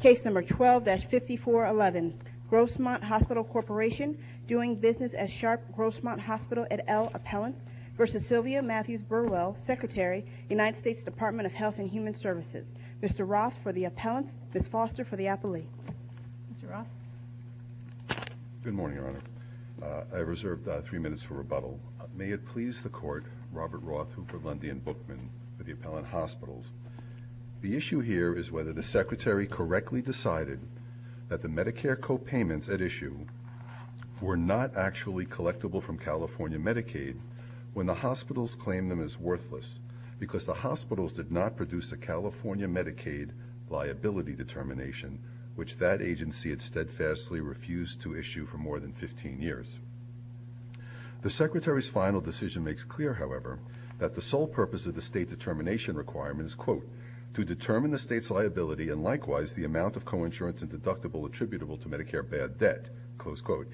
Case number 12-5411 Grossmont Hospital Corporation doing business at Sharp Grossmont Hospital at L Appellants v. Sylvia Mathews Burwell, Secretary, United States Department of Health and Human Services. Mr. Roth for the appellants, Ms. Foster for the appellee. Mr. Roth. Good morning, your honor. I reserved three minutes for rebuttal. May it please the court, Robert Roth, Hooper, Lundy, and Bookman for the appellant hospitals. The issue here is whether the secretary correctly decided that the Medicare copayments at issue were not actually collectible from California Medicaid when the hospitals claim them as worthless because the hospitals did not produce a California Medicaid liability determination which that agency had steadfastly refused to issue for more than 15 years. The secretary's final decision makes clear, however, that the sole purpose of the state determination requirement is, quote, to determine the state's liability and likewise the amount of coinsurance and deductible attributable to Medicare bad debt, close quote.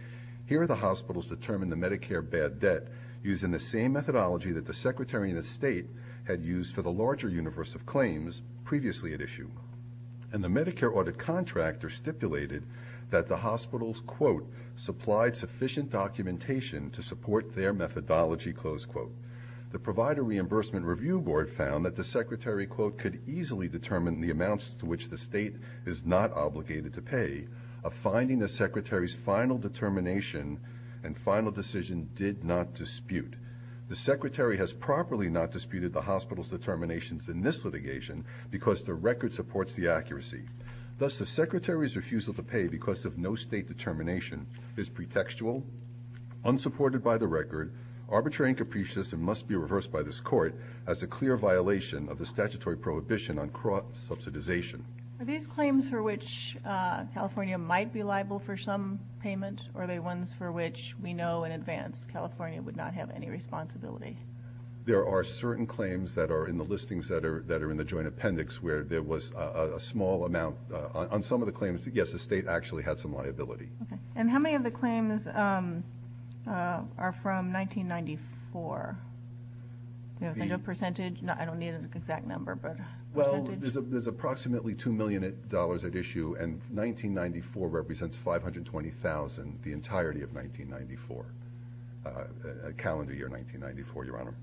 Here the hospitals determine the Medicare bad debt using the same methodology that the secretary of the state had used for the larger universe of claims previously at issue. And the Medicare audit contractor stipulated that the hospitals, quote, supplied sufficient documentation to support their methodology, close quote. The provider reimbursement review board found that the secretary, quote, could easily determine the amounts to which the state is not obligated to pay, a finding the secretary's final determination and final decision did not dispute. The secretary has properly not disputed the hospital's determinations in this litigation because the record supports the accuracy. Thus the secretary's refusal to pay because of no state determination is pretextual, unsupported by the record, arbitrary and capricious, and must be reversed by this court as a clear violation of the statutory prohibition on crop subsidization. Are these claims for which California might be liable for some payment? Are they ones for which we know in advance California would not have any responsibility? There are certain claims that are in the listings that are that are in the joint appendix where there was a small amount on some of the claims. Yes, the state actually had some liability. And how many of the claims are from 1994? Do you have a percentage? I don't need an exact number, but... Well, there's approximately two million dollars at issue and 1994 represents 520,000 the entirety of 1994, calendar year 1994, your honor.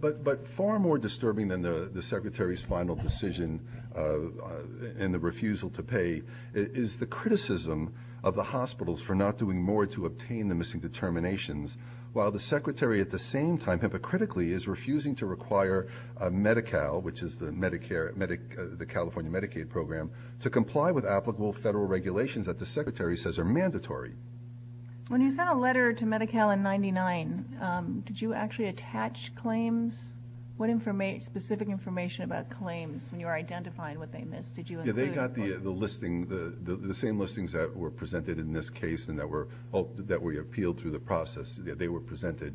But far more disturbing than the secretary's final decision and the refusal to pay is the criticism of the hospitals for not doing more to obtain the missing determinations, while the secretary at the same time hypocritically is refusing to require Medi-Cal, which is the California Medicaid program, to comply with applicable federal regulations that the secretary says are mandatory. When you sent a letter to Medi-Cal in what they missed, did you include... Yeah, they got the listing, the same listings that were presented in this case and that were appealed through the process, they were presented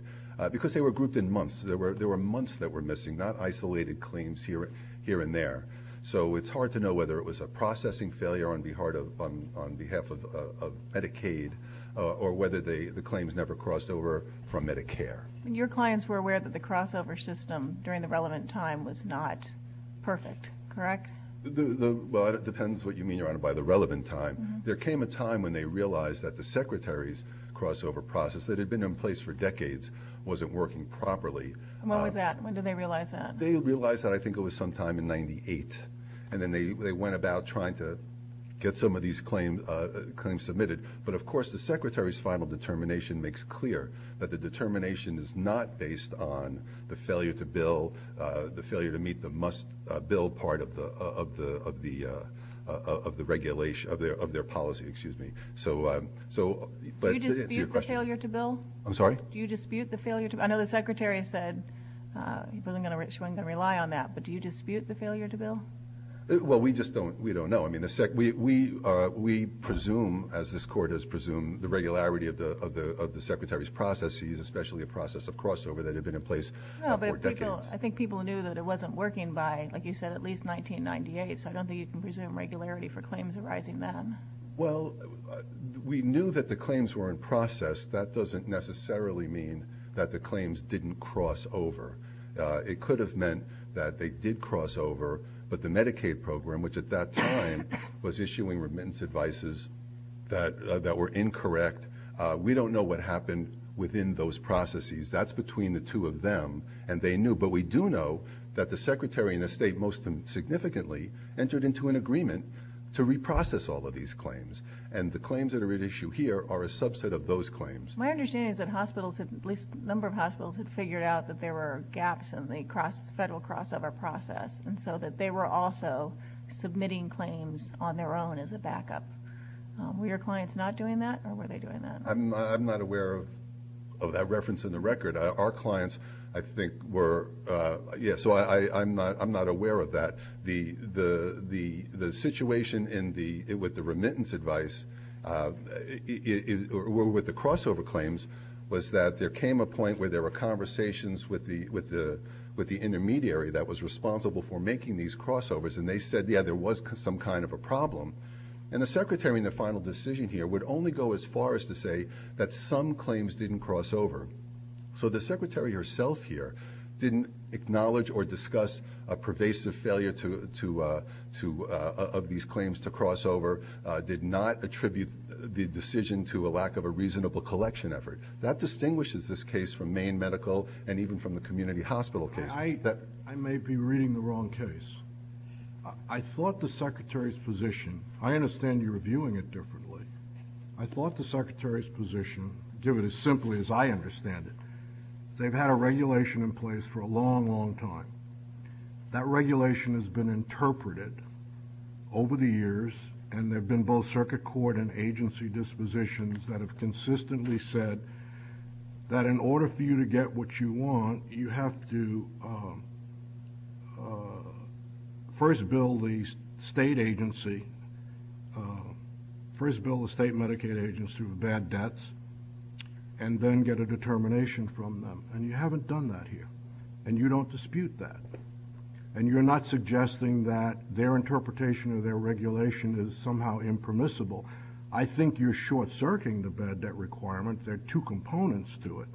because they were grouped in months. There were months that were missing, not isolated claims here and there. So it's hard to know whether it was a processing failure on behalf of Medicaid or whether the claims never crossed over from Medicare. Your clients were aware that the Well, it depends what you mean, your honor, by the relevant time. There came a time when they realized that the secretary's crossover process that had been in place for decades wasn't working properly. When was that? When did they realize that? They realized that I think it was sometime in 98 and then they went about trying to get some of these claims submitted. But of course, the secretary's final determination makes clear that the determination is not based on the failure to bill, the failure to meet the must-build part of their policy. Do you dispute the failure to bill? I'm sorry? Do you dispute the failure to... I know the secretary said she wasn't going to rely on that, but do you dispute the failure to bill? Well, we don't know. We presume, as this court has presumed, the regularity of the secretary's especially a process of crossover that had been in place for decades. I think people knew that it wasn't working by, like you said, at least 1998, so I don't think you can presume regularity for claims arising then. Well, we knew that the claims were in process. That doesn't necessarily mean that the claims didn't cross over. It could have meant that they did cross over, but the Medicaid program, which at that time was issuing remittance advices that were incorrect, we don't know what happened within those processes. That's between the two of them, and they knew, but we do know that the secretary and the state most significantly entered into an agreement to reprocess all of these claims, and the claims that are at issue here are a subset of those claims. My understanding is that hospitals have, at least a number of hospitals, had figured out that there were gaps in the federal crossover process, and so that they were also submitting claims on their own as a backup. Were your clients not doing that, or were they doing that? I'm not aware of that reference in the record. Our clients, I think, were, yeah, so I'm not aware of that. The situation with the remittance advice, with the crossover claims, was that there came a point where there were conversations with the intermediary that was responsible for making these crossovers, and they said, yeah, there was some kind of a problem, and the secretary in the final decision here would only go as far as to say that some claims didn't cross over. So the secretary herself here didn't acknowledge or discuss a pervasive failure of these claims to cross over, did not attribute the decision to a lack of a reasonable collection effort. That distinguishes this case from Maine Medical and even from the community hospital case. I may be reading the wrong case. I thought the secretary's position, I understand you're viewing it differently, I thought the secretary's position, to give it as simply as I understand it, they've had a regulation in place for a long, long time. That regulation has been interpreted over the years, and there have been both circuit court and agency dispositions that have consistently said that in order for you to get what you want, you have to first bill the state agency, first bill the state Medicaid agency with bad debts, and then get a determination from them, and you haven't done that here, and you don't dispute that, and you're not suggesting that their interpretation of their regulation is somehow impermissible. I think you're short-circuiting the bad debt requirement. There are two components to it,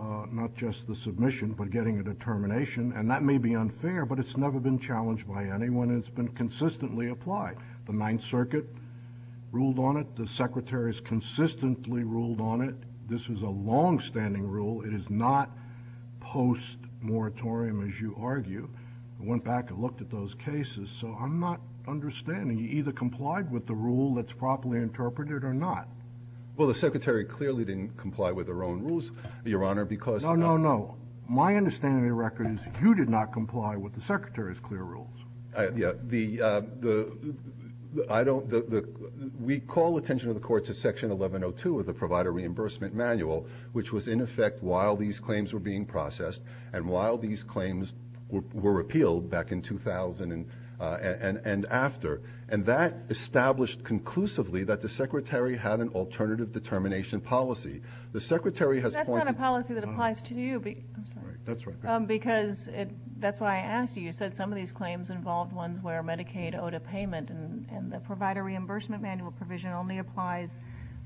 not just the submission, but getting a determination, and that may be unfair, but it's never been challenged by anyone. It's been consistently applied. The Ninth Circuit ruled on it. The secretary's consistently ruled on it. This is a long-standing rule. It is not post-moratorium, as you argue. I went back and looked at those cases, so I'm not sure. You either complied with the rule that's properly interpreted or not. Well, the secretary clearly didn't comply with her own rules, Your Honor, because... No, no, no. My understanding of the record is you did not comply with the secretary's clear rules. We call attention of the court to Section 1102 of the Provider Reimbursement Manual, which was in effect while these claims were being processed, and while these claims were repealed back in 2000 and after, and that established conclusively that the secretary had an alternative determination policy. The secretary has pointed... That's not a policy that applies to you, because that's why I asked you. You said some of these claims involved ones where Medicaid owed a payment, and the Provider Reimbursement Manual provision only applies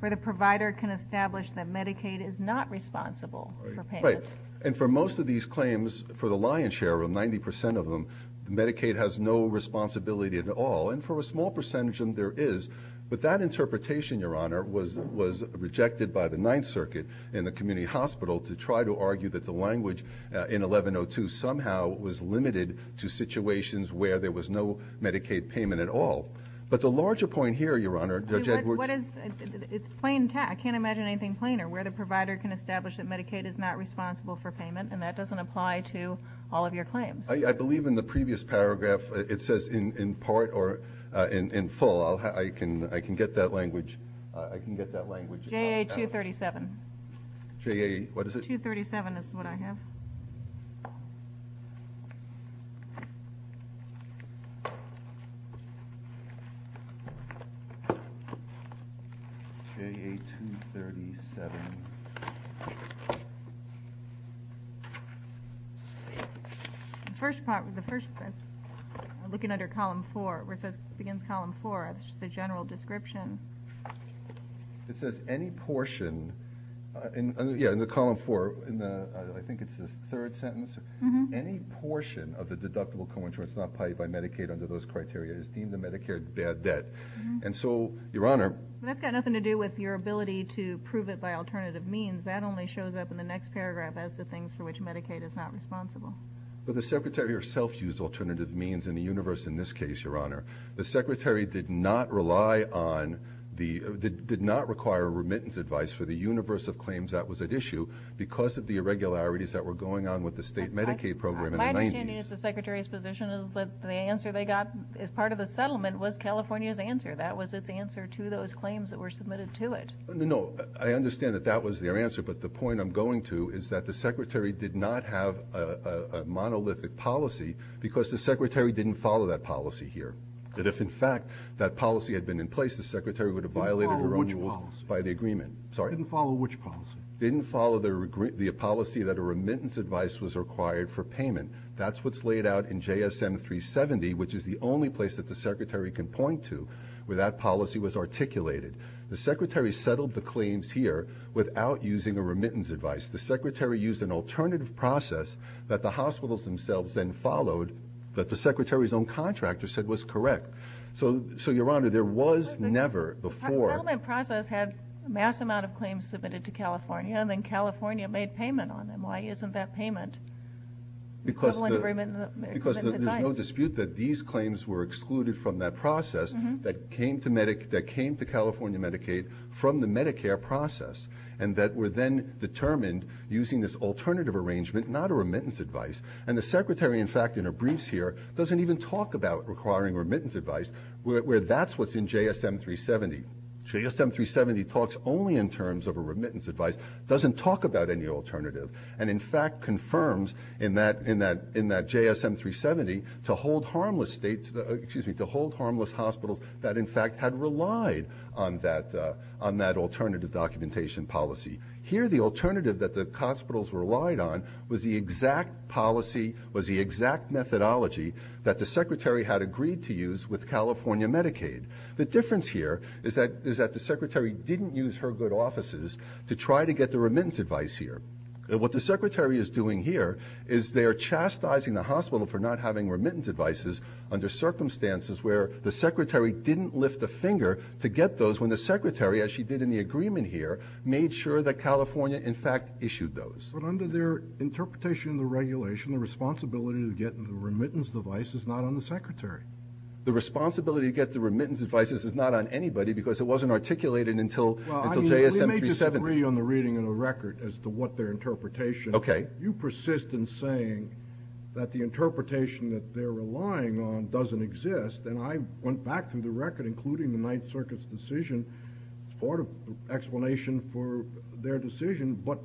where the provider can establish that Medicaid is not responsible for payment. Right, and for most of these claims, for the lion's share of them, 90% of them, Medicaid has no responsibility at all, and for a small percentage of them, there is. But that interpretation, Your Honor, was rejected by the Ninth Circuit and the community hospital to try to argue that the language in 1102 somehow was limited to situations where there was no Medicaid payment at all. But the larger point here, Your Honor, Judge Edwards... What is... It's plain tech. I can't imagine anything plainer. Where the provider can establish that Medicaid is not responsible for payment, and that doesn't apply to all of your claims. I believe in the previous paragraph, it says in part or in full. I can get that language. I can get that language. JA-237. JA, what is it? 237 is what I have. JA-237. The first part, the first... I'm looking under column four, where it says, begins column four. It's just a general description. It says, any portion... Yeah, in the column four, in the... I think it's the third sentence. Any portion of the deductible co-insurance not paid by Medicaid under those criteria is deemed a Medicare bad debt. And so, Your Honor... That's got nothing to do with your ability to prove it by alternative means. That only shows up in the next paragraph as to things for which Medicaid is not responsible. But the Secretary herself used alternative means in the universe in this case, Your Honor. The Secretary did not rely on the... Did not require remittance advice for the universe of claims that was at issue because of the irregularities that were going on with the state Medicaid program in the 90s. My understanding is the Secretary's position is that the answer they got as part of the settlement was California's answer. That was its answer to those claims that were submitted to it. No, I understand that that was their answer, but the point I'm going to is the Secretary did not have a monolithic policy because the Secretary didn't follow that policy here. That if, in fact, that policy had been in place, the Secretary would have violated her own rules by the agreement. Didn't follow which policy? Sorry? Didn't follow which policy? Didn't follow the policy that a remittance advice was required for payment. That's what's laid out in JSM 370, which is the only place that the Secretary can point to where that policy was articulated. The Secretary settled the claims here without using a remittance advice. The Secretary used an alternative process that the hospitals themselves then followed that the Secretary's own contractor said was correct. So, so, Your Honor, there was never before... The settlement process had a mass amount of claims submitted to California and then California made payment on them. Why isn't that payment equivalent agreement? Because there's no dispute that these claims were excluded from that process that came to California Medicaid from the Medicare process and that were then determined using this alternative arrangement, not a remittance advice. And the Secretary, in fact, in her briefs here doesn't even talk about requiring remittance advice where that's what's in JSM 370. JSM 370 talks only in terms of a remittance advice, doesn't talk about any alternative, and in fact confirms in that, in that, in that JSM 370 to hold harmless states, excuse me, to hold harmless hospitals that in fact had relied on that, on that alternative documentation policy. Here, the alternative that the hospitals relied on was the exact policy, was the exact methodology that the Secretary had agreed to use with California Medicaid. The difference here is that, is that the Secretary didn't use her good offices to try to get the remittance advice here. What the Secretary is doing here is they're chastising the hospital for not having remittance advices under circumstances where the Secretary didn't lift a finger to get those when the Secretary, as she did in the agreement here, made sure that California in fact issued those. But under their interpretation of the regulation, the responsibility to get the remittance device is not on the Secretary. The responsibility to get the remittance devices is not on anybody because it wasn't articulated until, until JSM 370. We may disagree on the reading of the record as to what their interpretation. Okay. You persist in saying that the interpretation that they're relying on doesn't exist, and I went back through the record, including the Ninth Circuit's decision, as part of explanation for their decision, but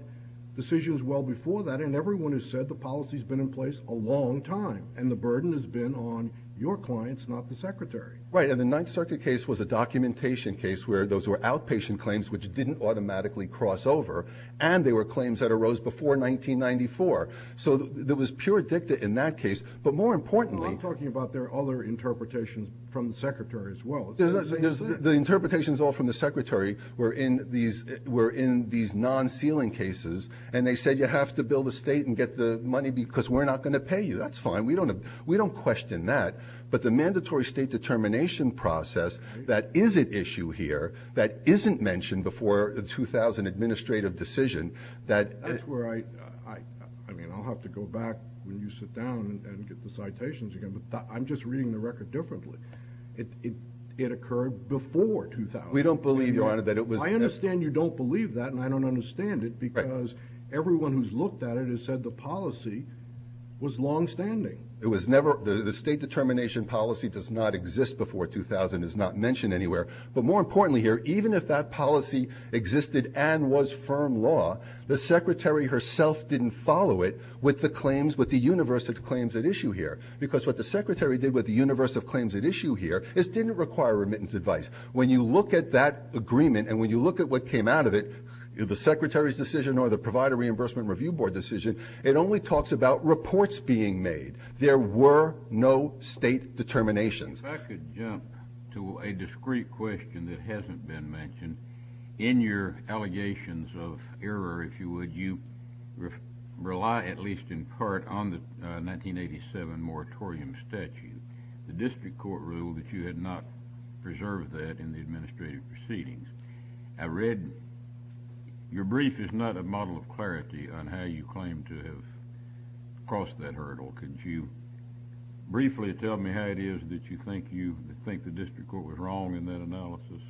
decisions well before that, and everyone has said the policy's been in place a long time, and the burden has been on your clients, not the Secretary. Right, and the Ninth Circuit case was a documentation case where those were outpatient claims which didn't automatically cross over, and they were claims that arose before 1994. So there was pure dicta in that case, but more importantly... I'm talking about their other interpretations from the Secretary as well. The interpretations all from the Secretary were in these, were in these non-sealing cases, and they said you have to bill the state and get the money because we're not going to pay you. That's fine. We don't question that, but the mandatory state determination process that is at issue here, that isn't mentioned before the 2000 administrative decision, that... That's where I, I mean, I'll have to go back when you sit down and get the citations again, but I'm just reading the record differently. It occurred before 2000. We don't believe, Your Honor, that it was... I understand you don't believe that, and I don't understand it because everyone who's looked at it has said the policy was longstanding. It was never... The state determination policy does not exist before 2000, is not mentioned anywhere, but more importantly here, even if that policy existed and was firm law, the Secretary herself didn't follow it with the claims, with the universe of claims at issue here, because what the Secretary did with the universe of claims at issue here is didn't require remittance advice. When you look at that agreement, and when you look at what came out of it, the Secretary's decision or the Provider Reimbursement Review Board decision, it only talks about reports being made. There were no state determinations. If I could jump to a discrete question that hasn't been mentioned, in your allegations of error, if you would, you rely at least in part on the 1987 moratorium statute, the district court rule that you had not preserved that in the administrative proceedings. I read your brief is not a model of clarity on how you claim to have crossed that hurdle. Could you briefly tell me how it is that you think the district court was wrong in that analysis?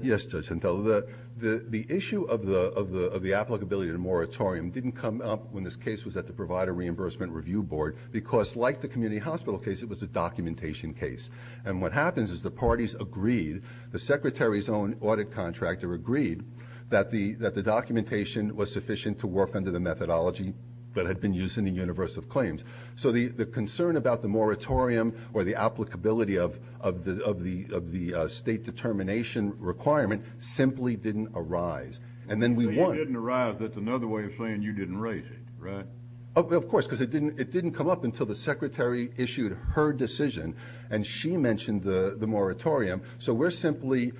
Yes, Judge Gentile. The issue of the applicability of the moratorium didn't come up when this case was at the Provider Reimbursement Review Board, because like the community hospital case, it was a documentation case. What happens is the parties agreed, the Secretary's own audit contractor agreed that the documentation was sufficient to work under the methodology that had been used in the universe of claims. So the concern about the moratorium or the applicability of the state determination requirement simply didn't arise. So you didn't arise, that's another way of saying you didn't raise it, right? Of course, because it didn't come up until the Secretary issued her decision, and she mentioned the moratorium. So we're simply,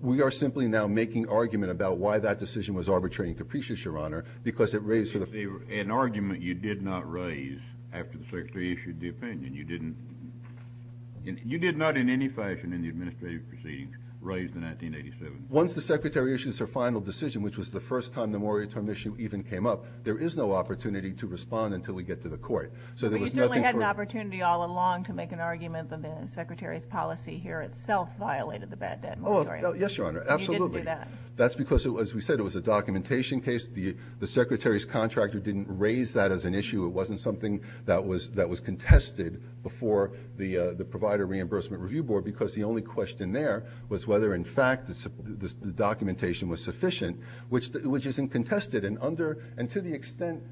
we are simply now making argument about why that decision was arbitrary and capricious, Your Honor, because it raised for the- An argument you did not raise after the Secretary issued the opinion. You didn't, you did not in any fashion in the administrative proceedings raise the 1987. Once the Secretary issues her final decision, which was the first time the moratorium issue even came up, there is no opportunity to respond until we get to the court. But you certainly had an opportunity all along to make an argument that the Secretary's policy here itself violated the bad debt moratorium. Yes, Your Honor, absolutely. And you didn't do that. That's because, as we said, it was a documentation case. The Secretary's contractor didn't raise that as an issue. It wasn't something that was contested before the Provider Reimbursement Review Board, because the only question there was whether, in fact, the documentation was sufficient, which isn't contested. And under, and to the extent,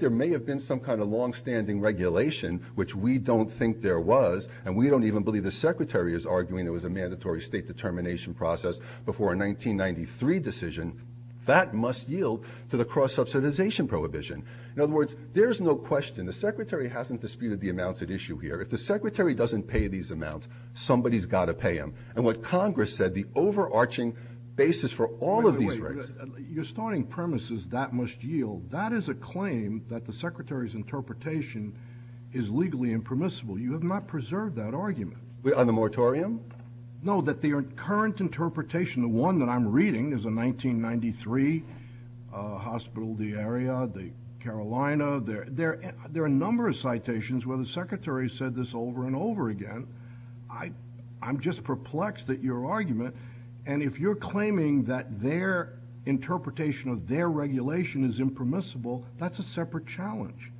there may have been some kind of longstanding regulation, which we don't think there was, and we don't even believe the Secretary is arguing it was a mandatory state determination process before a 1993 decision, that must yield to the cross-subsidization prohibition. In other words, there's no question, the Secretary hasn't disputed the amounts at issue here. If the Secretary doesn't pay these amounts, somebody's got to pay them. And what Congress said, the overarching basis for all of these- Your starting premise is, that must yield. That is a claim that the Secretary's interpretation is legally impermissible. You have not preserved that argument. On the moratorium? No, that the current interpretation, the one that I'm reading, is a 1993, hospital, the area, the Carolina. There are a number of citations where the Secretary said this over and over again. I'm just perplexed at your argument. And if you're claiming that their interpretation of their regulation is impermissible, that's a separate challenge.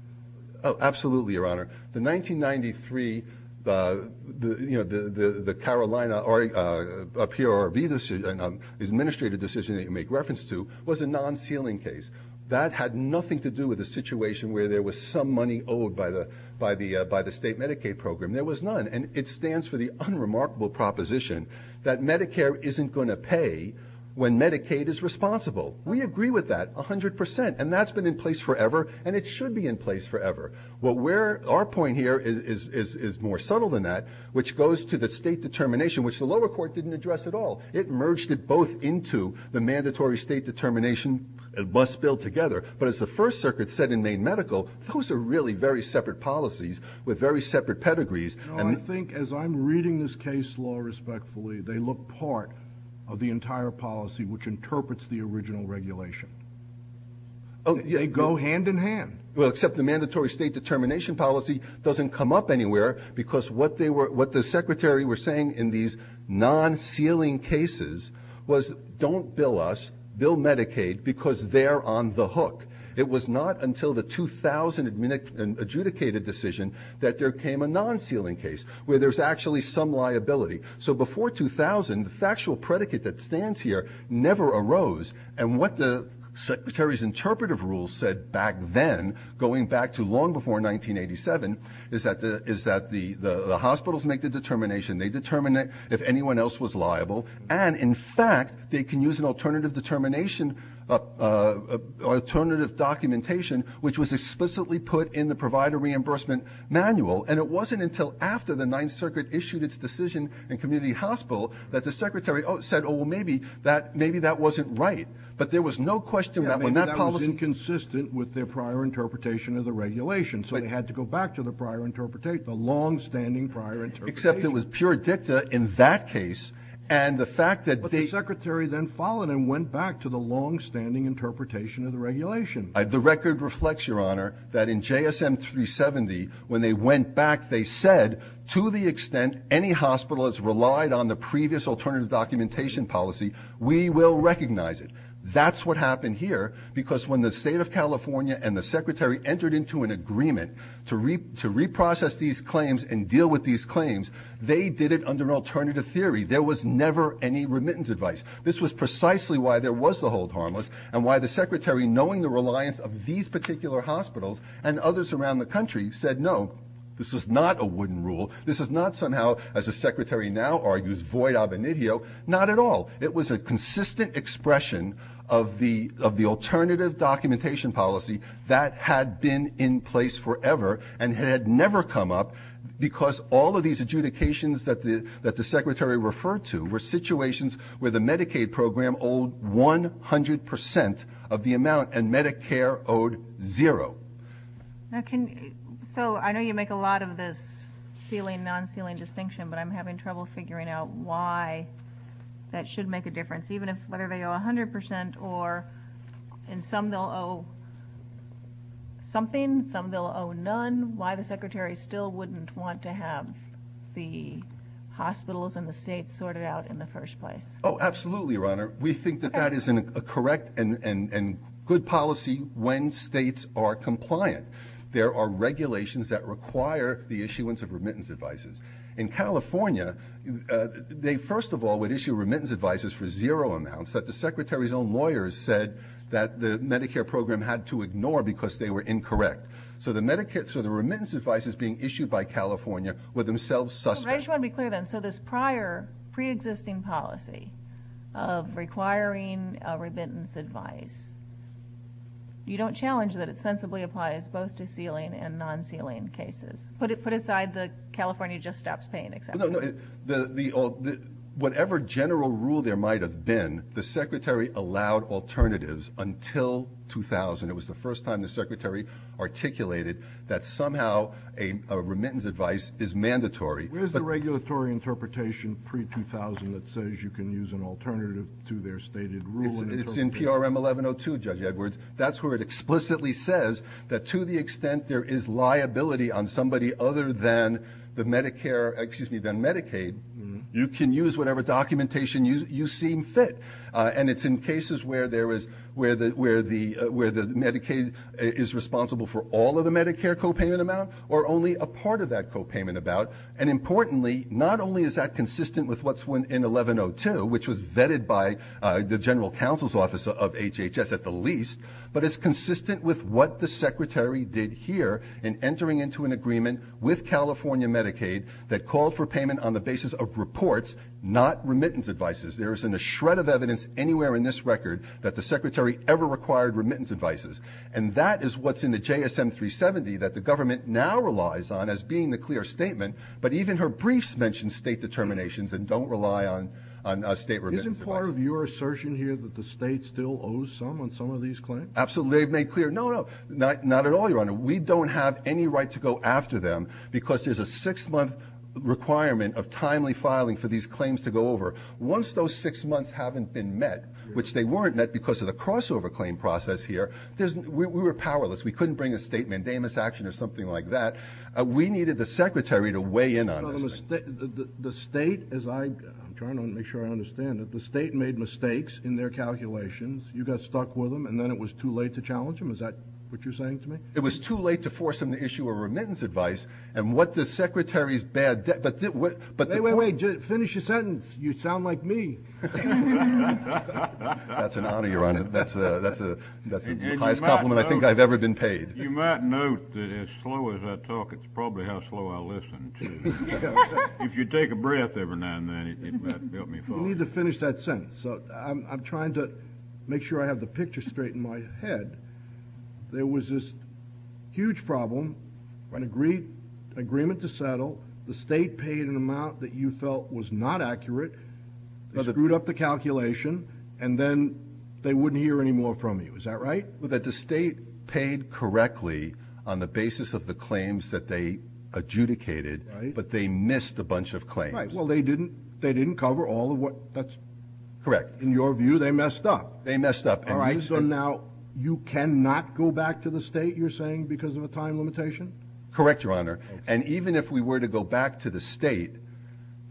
Oh, absolutely, Your Honor. The 1993, the Carolina PRRB, the administrative decision that you make reference to, was a non-sealing case. That had nothing to do with the situation where there was some money owed by the state Medicaid program. There was none. And it stands for the unremarkable proposition that Medicare isn't going to pay when Medicaid is responsible. We agree with that 100%. And that's been in place forever, and it should be in place forever. Our point here is more subtle than that, which goes to the state determination, which the lower court didn't address at all. It merged it both into the mandatory state determination and bus bill together. But as the First Circuit said in Maine Medical, those are really very separate policies with very separate pedigrees. No, I think as I'm reading this case law respectfully, they look part of the entire policy which interprets the original regulation. They go hand in hand. Well, except the mandatory state determination policy doesn't come up anywhere because what the Secretary was saying in these non-sealing cases was, don't bill us, bill Medicaid, because they're on the hook. It was not until the 2000 adjudicated decision that there came a non-sealing case where there's actually some liability. So before 2000, the factual predicate that stands here never arose. And what the Secretary's interpretive rules said back then, going back to long before 1987, is that the hospitals make the determination. They determine if anyone else was liable. And in fact, they can use an alternative determination, alternative documentation, which was explicitly put in the provider reimbursement manual. And it wasn't until after the Ninth Circuit issued its decision in community hospital that the Secretary said, oh, well, maybe that wasn't right. But there was no question Yeah, I mean, that was inconsistent with their prior interpretation of the regulation. So they had to go back to the prior — the longstanding prior interpretation. Except it was pure dicta in that case. And the fact that — But the Secretary then followed and went back to the longstanding interpretation of the regulation. The record reflects, Your Honor, that in JSM 370, when they went back, they said, to the extent any hospital has relied on the previous alternative documentation policy, we will recognize it. That's what happened here, because when the state of California and the Secretary entered into an agreement to reprocess these claims and deal with these claims, they did it under an alternative theory. There was never any remittance advice. This was precisely why there was the hold harmless and why the Secretary, knowing the reliance of these particular hospitals and others around the country, said, no, this is not a wooden rule. This is not somehow, as the Secretary now argues, void ab initio. Not at all. It was a consistent expression of the alternative documentation policy that had been in place forever and had never come up because all of these adjudications that the Secretary referred to were situations where the Medicaid program owed 100 percent of the amount and Medicare owed zero. Now, can, so I know you make a lot of this ceiling, non-ceiling distinction, but I'm having trouble figuring out why that should make a difference, even if, whether they owe 100 percent or, and some they'll owe something, some they'll owe none, why the Secretary still wouldn't want to have the hospitals and the states sorted out in the first place? Oh, absolutely, Your Honor. We think that that is a correct and good policy when states are compliant. There are regulations that require the issuance of remittance advices. In California, they first of all would issue remittance advices for zero amounts that the Secretary's own lawyers said that the Medicare program had to ignore because they were incorrect. So the remittance advices being issued by California were themselves suspect. I just want to be clear then, so this prior, pre-existing policy of requiring a remittance advice, you don't challenge that it sensibly applies both to ceiling and non-ceiling cases? Put it, put aside the California Just Stops Paying example. No, no, the, the, whatever general rule there might have been, the Secretary allowed alternatives until 2000. It was the first time the Secretary articulated that somehow a remittance advice is mandatory. Where's the regulatory interpretation pre-2000 that says you can use an alternative to their stated rule? It's in PRM 1102, Judge Edwards. That's where it explicitly says that to the extent there is liability on somebody other than the Medicare, excuse me, than Medicaid, you can use whatever documentation you, you seem fit. And it's in cases where there is, where the, where the, where the Medicaid is responsible for all of the Medicare copayment amount or only a part of that copayment amount. And importantly, not only is that consistent with what's in 1102, which was vetted by the General Counsel's Office of HHS at the least, but it's consistent with what the Secretary did here in entering into an agreement with California Medicaid that called for payment on the basis of reports, not remittance advices. There isn't a shred of evidence anywhere in this record that the Secretary ever required remittance advices. And that is what's in the JSM 370 that the government now relies on as being the clear statement. But even her briefs mentioned state determinations and don't rely on a state remittance advice. Isn't part of your assertion here that the state still owes some on some of these claims? Absolutely. They've made clear. No, no, not, not at all, Your Honor. We don't have any right to go after them because there's a six month requirement of timely filing for these claims to go over. Once those six months haven't been met, which they weren't met because of the crossover claim process here, we were powerless. We couldn't bring a state mandamus action or something like that. We needed the Secretary to weigh in on this. The state, as I'm trying to make sure I understand it, the state made mistakes in their calculations. You got stuck with them and then it was too late to challenge them. Is that what you're saying to me? It was too late to force them to issue a remittance advice. And what the Secretary's bad... Wait, finish your sentence. You sound like me. That's an honor, Your Honor. That's the highest compliment I think I've ever been paid. You might note that as slow as I talk, it's probably how slow I listen if you take a breath every now and then. You need to finish that sentence. So I'm trying to make sure I have the picture straight in my head. There was this huge problem, an agreement to was not accurate, screwed up the calculation, and then they wouldn't hear any more from you. Is that right? That the state paid correctly on the basis of the claims that they adjudicated, but they missed a bunch of claims. Well, they didn't cover all of what... That's correct. In your view, they messed up. They messed up. All right. So now you cannot go back to the state, you're saying, because of a time limitation? Correct, Your Honor. And even if we were to go back to the state,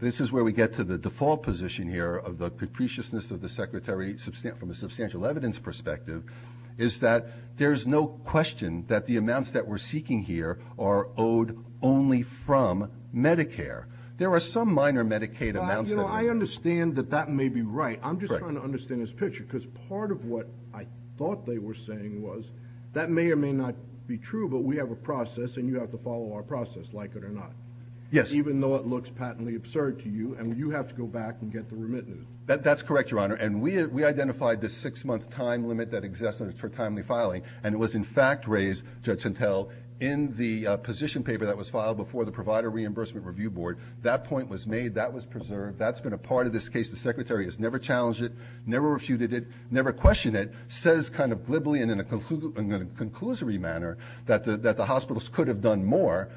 this is where we get to the default position here of the capriciousness of the secretary from a substantial evidence perspective, is that there's no question that the amounts that we're seeking here are owed only from Medicare. There are some minor Medicaid amounts that... I understand that that may be right. I'm just trying to understand this picture because part of what I thought they were saying was that may or may not be true, but we have a even though it looks patently absurd to you, and you have to go back and get the remittances. That's correct, Your Honor. And we identified the six-month time limit that exists for timely filing, and it was in fact raised, Judge Santel, in the position paper that was filed before the Provider Reimbursement Review Board. That point was made, that was preserved, that's been a part of this case. The secretary has never challenged it, never refuted it, never questioned it, says kind of glibly and in a conclusory manner that the hospitals could have done more,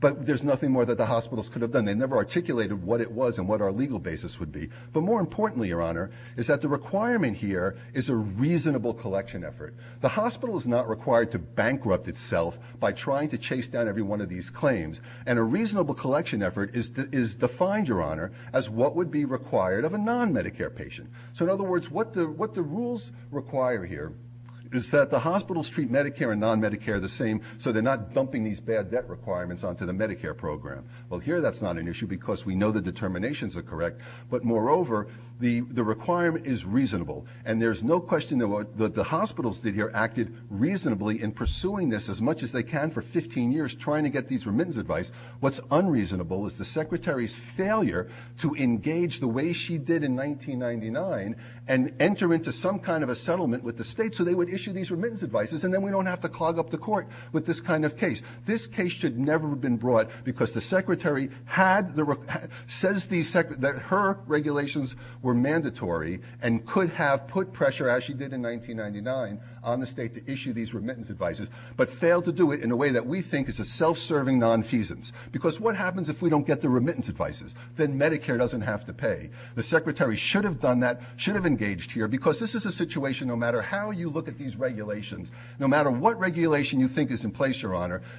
but there's nothing more that the hospitals could have done. They never articulated what it was and what our legal basis would be. But more importantly, Your Honor, is that the requirement here is a reasonable collection effort. The hospital is not required to bankrupt itself by trying to chase down every one of these claims, and a reasonable collection effort is defined, Your Honor, as what would be required of a non-Medicare patient. So in other words, what the rules require here is that the hospitals treat Medicare and non-Medicare the same, so they're not dumping these bad debt requirements onto the Medicare program. Well, here that's not an issue because we know the determinations are correct, but moreover, the requirement is reasonable, and there's no question that what the hospitals did here acted reasonably in pursuing this as much as they can for 15 years trying to get these remittance advice. What's unreasonable is the secretary's failure to engage the way she did in 1999 and enter into some kind of a settlement with the state so they would issue these remittance advices, and then we don't have to clog up the case. This case should never have been brought because the secretary says that her regulations were mandatory and could have put pressure, as she did in 1999, on the state to issue these remittance advices, but failed to do it in a way that we think is a self-serving nonfeasance, because what happens if we don't get the remittance advices? Then Medicare doesn't have to pay. The secretary should have done that, should have engaged here, because this is a situation, no matter how you look at these regulations, no matter what regulation you think is in place,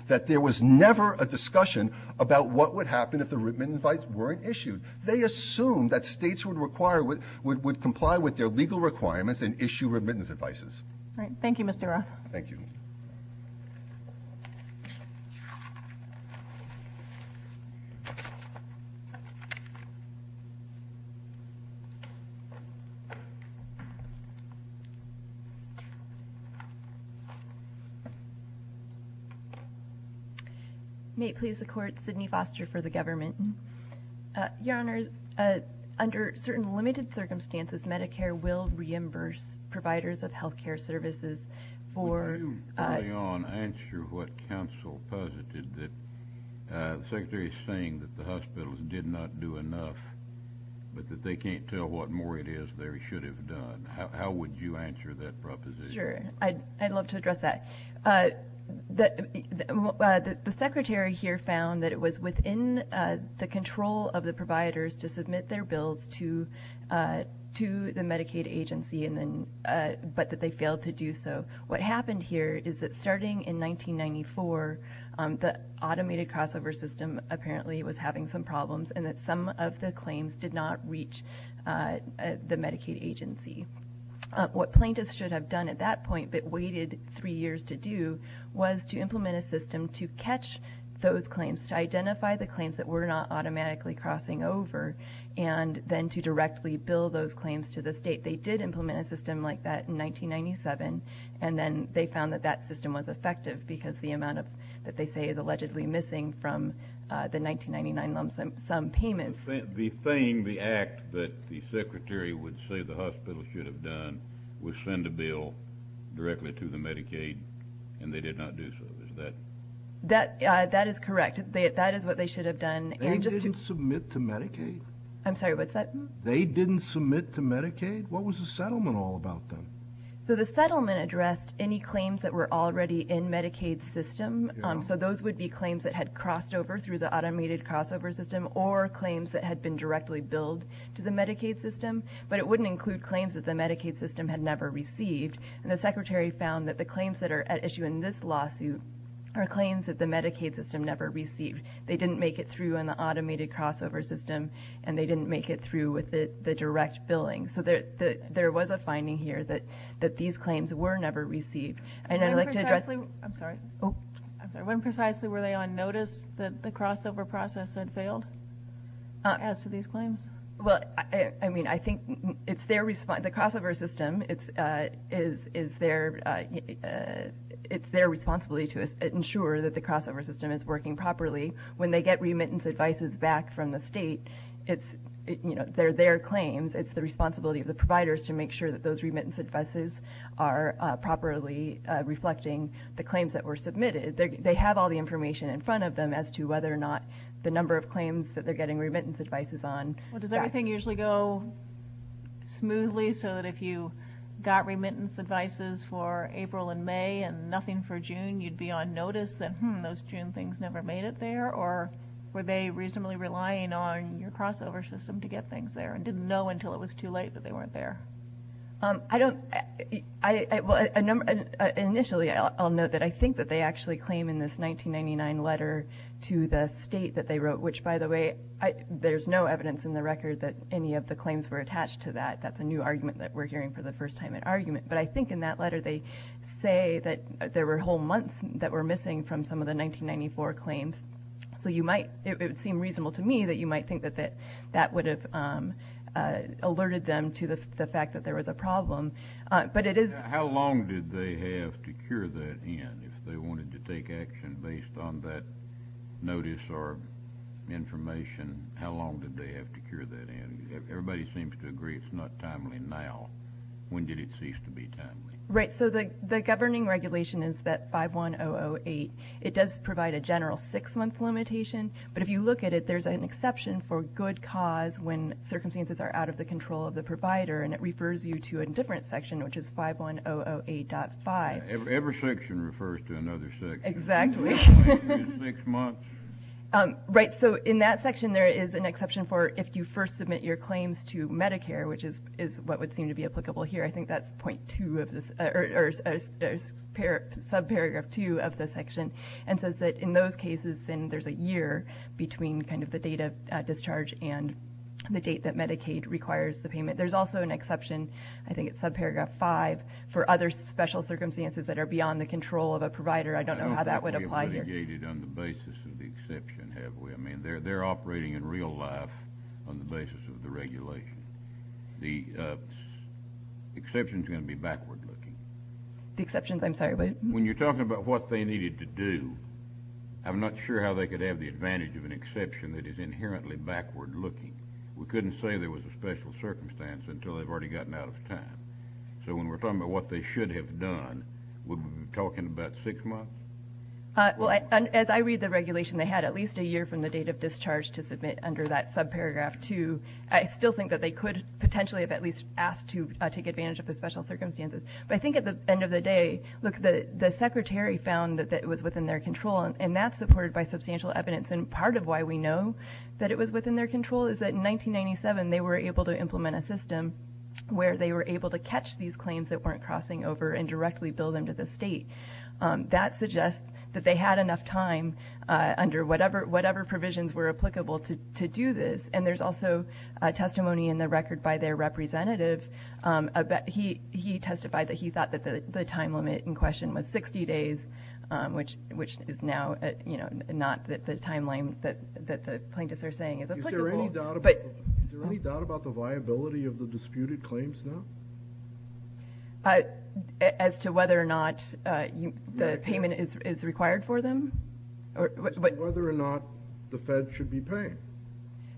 that there was never a discussion about what would happen if the remittance advice weren't issued. They assumed that states would comply with their legal requirements and issue remittance advices. All right. Thank you, Mr. Roth. Thank you. May it please the court, Sydney Foster for the government. Your honors, under certain limited circumstances, Medicare will reimburse providers of health care services for... Would you, early on, answer what counsel posited, that the secretary is saying that the hospitals did not do enough, but that they can't tell what more it is they should have done? How would you answer that proposition? Sure. I'd love to address that. The secretary here found that it was within the control of Medicaid, but that they failed to do so. What happened here is that starting in 1994, the automated crossover system apparently was having some problems, and that some of the claims did not reach the Medicaid agency. What plaintiffs should have done at that point, but waited three years to do, was to implement a system to catch those claims, to identify the claims that were not automatically crossing over, and then to directly bill those claims to the state. They did implement a system like that in 1997, and then they found that that system was effective, because the amount that they say is allegedly missing from the 1999 lump sum payments... The thing, the act that the secretary would say the hospital should have done, was send a bill directly to the Medicaid, and they did not do so. Is that... That is correct. That is what they should have done. They didn't submit to Medicaid? I'm sorry, what's that? They didn't submit to Medicaid? What was the settlement all about then? So the settlement addressed any claims that were already in Medicaid's system, so those would be claims that had crossed over through the automated crossover system, or claims that had been directly billed to the Medicaid system, but it wouldn't include claims that the Medicaid system had never received, and the secretary found that the claims that are at issue in this lawsuit are claims that the Medicaid system never received. They didn't make it through in the automated crossover system, and they didn't make it through with the direct billing. So there was a finding here that these claims were never received, and I'd like to address... When precisely were they on notice that the crossover process had failed, as to these claims? Well, I mean, I think it's their response... The crossover system, it's their responsibility to ensure that the crossover system is working properly. When they get remittance advices back from the state, they're their claims. It's the responsibility of the providers to make sure that those remittance advices are properly reflecting the claims that were submitted. They have all the information in front of them as to whether or not the number of claims that they're getting remittance advices on... Well, does everything usually go smoothly, so that if you got remittance advices for April and May and nothing for June, you'd be on notice that, hmm, those June things never made it there? Or were they reasonably relying on your crossover system to get things there and didn't know until it was too late that they weren't there? Initially, I'll note that I think that they actually claim in this 1999 letter to the state that they wrote, which, by the way, there's no evidence in the record that any of the claims were attached to that. That's a new argument that we're hearing for the first time in argument. But I think in that letter, they say that there were whole months that were missing from some of the 1994 claims. So you might... It would seem reasonable to me that you might think that that would have alerted them to the fact that there was a problem. But it is... How long did they have to cure that in if they wanted to take action based on that notice or information? How long did they have to cure that in? Everybody seems to agree it's not timely now. When did it cease to be timely? Right. So the governing regulation is that 51008, it does provide a general six-month limitation. But if you look at it, there's an exception for good cause when circumstances are out of the control of the provider. And it refers you to a different section, which is 51008.5. Every section refers to another section. Exactly. Right. So in that section, there is an exception for if you first submit your claims to Medicare, which is what would seem to be applicable here. I think that's point two of this, or subparagraph two of the section, and says that in those cases, then there's a year between kind of the date of discharge and the date that Medicaid requires the payment. There's also an exception, I think it's subparagraph five, for other special circumstances that are beyond the control of a provider. I don't know how that would apply here. I don't think we've mitigated on the basis of the exception, have we? I mean, they're operating in real life on the basis of the regulation. The exception's going to be backward-looking. The exception, I'm sorry, but? When you're talking about what they needed to do, I'm not sure how they could have the advantage of an exception that is inherently backward-looking. We couldn't say there was a special circumstance until they've already gotten out of time. So when we're talking about what they should have done, would we be talking about six months? Well, as I read the regulation, they had at least a year from the date of discharge to submit under that subparagraph two. I still think that they could potentially have at least asked to take advantage of the special circumstances. But I think at the end of the day, look, the Secretary found that it was within their control, and that's supported by substantial evidence. And part of why we know that it was within their control is that in 1997, they were able to implement a system where they were able to catch these claims that weren't crossing over and directly bill them to the state. That suggests that they had enough time under whatever provisions were applicable to do this. And there's also testimony in the record by their representative. He testified that he thought that the time limit in question was 60 days, which is now not the timeline that the plaintiffs are saying is applicable. Is there any doubt about the viability of the disputed claims now? As to whether or not the payment is required for them? Whether or not the Fed should be paying.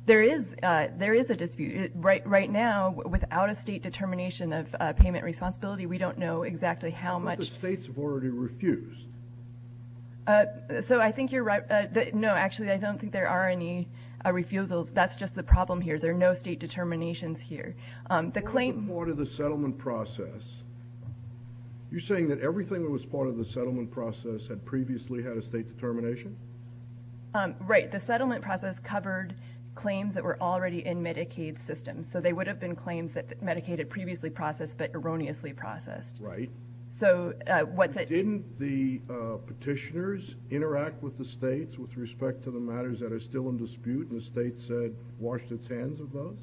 There is a dispute. Right now, without a state determination of payment responsibility, we don't know exactly how much... But the states have already refused. So I think you're right. No, actually, I don't think there are any refusals. That's just the problem here. There are no state determinations here. The claim... What about the settlement process? You're saying that everything that was part of the settlement process had previously had a state determination? Right. The settlement process covered claims that were already in Medicaid systems. So they would have been claims that Medicaid had previously processed, but erroneously processed. Right. Didn't the petitioners interact with the states with respect to the matters that are still in dispute and the state said washed its hands of those?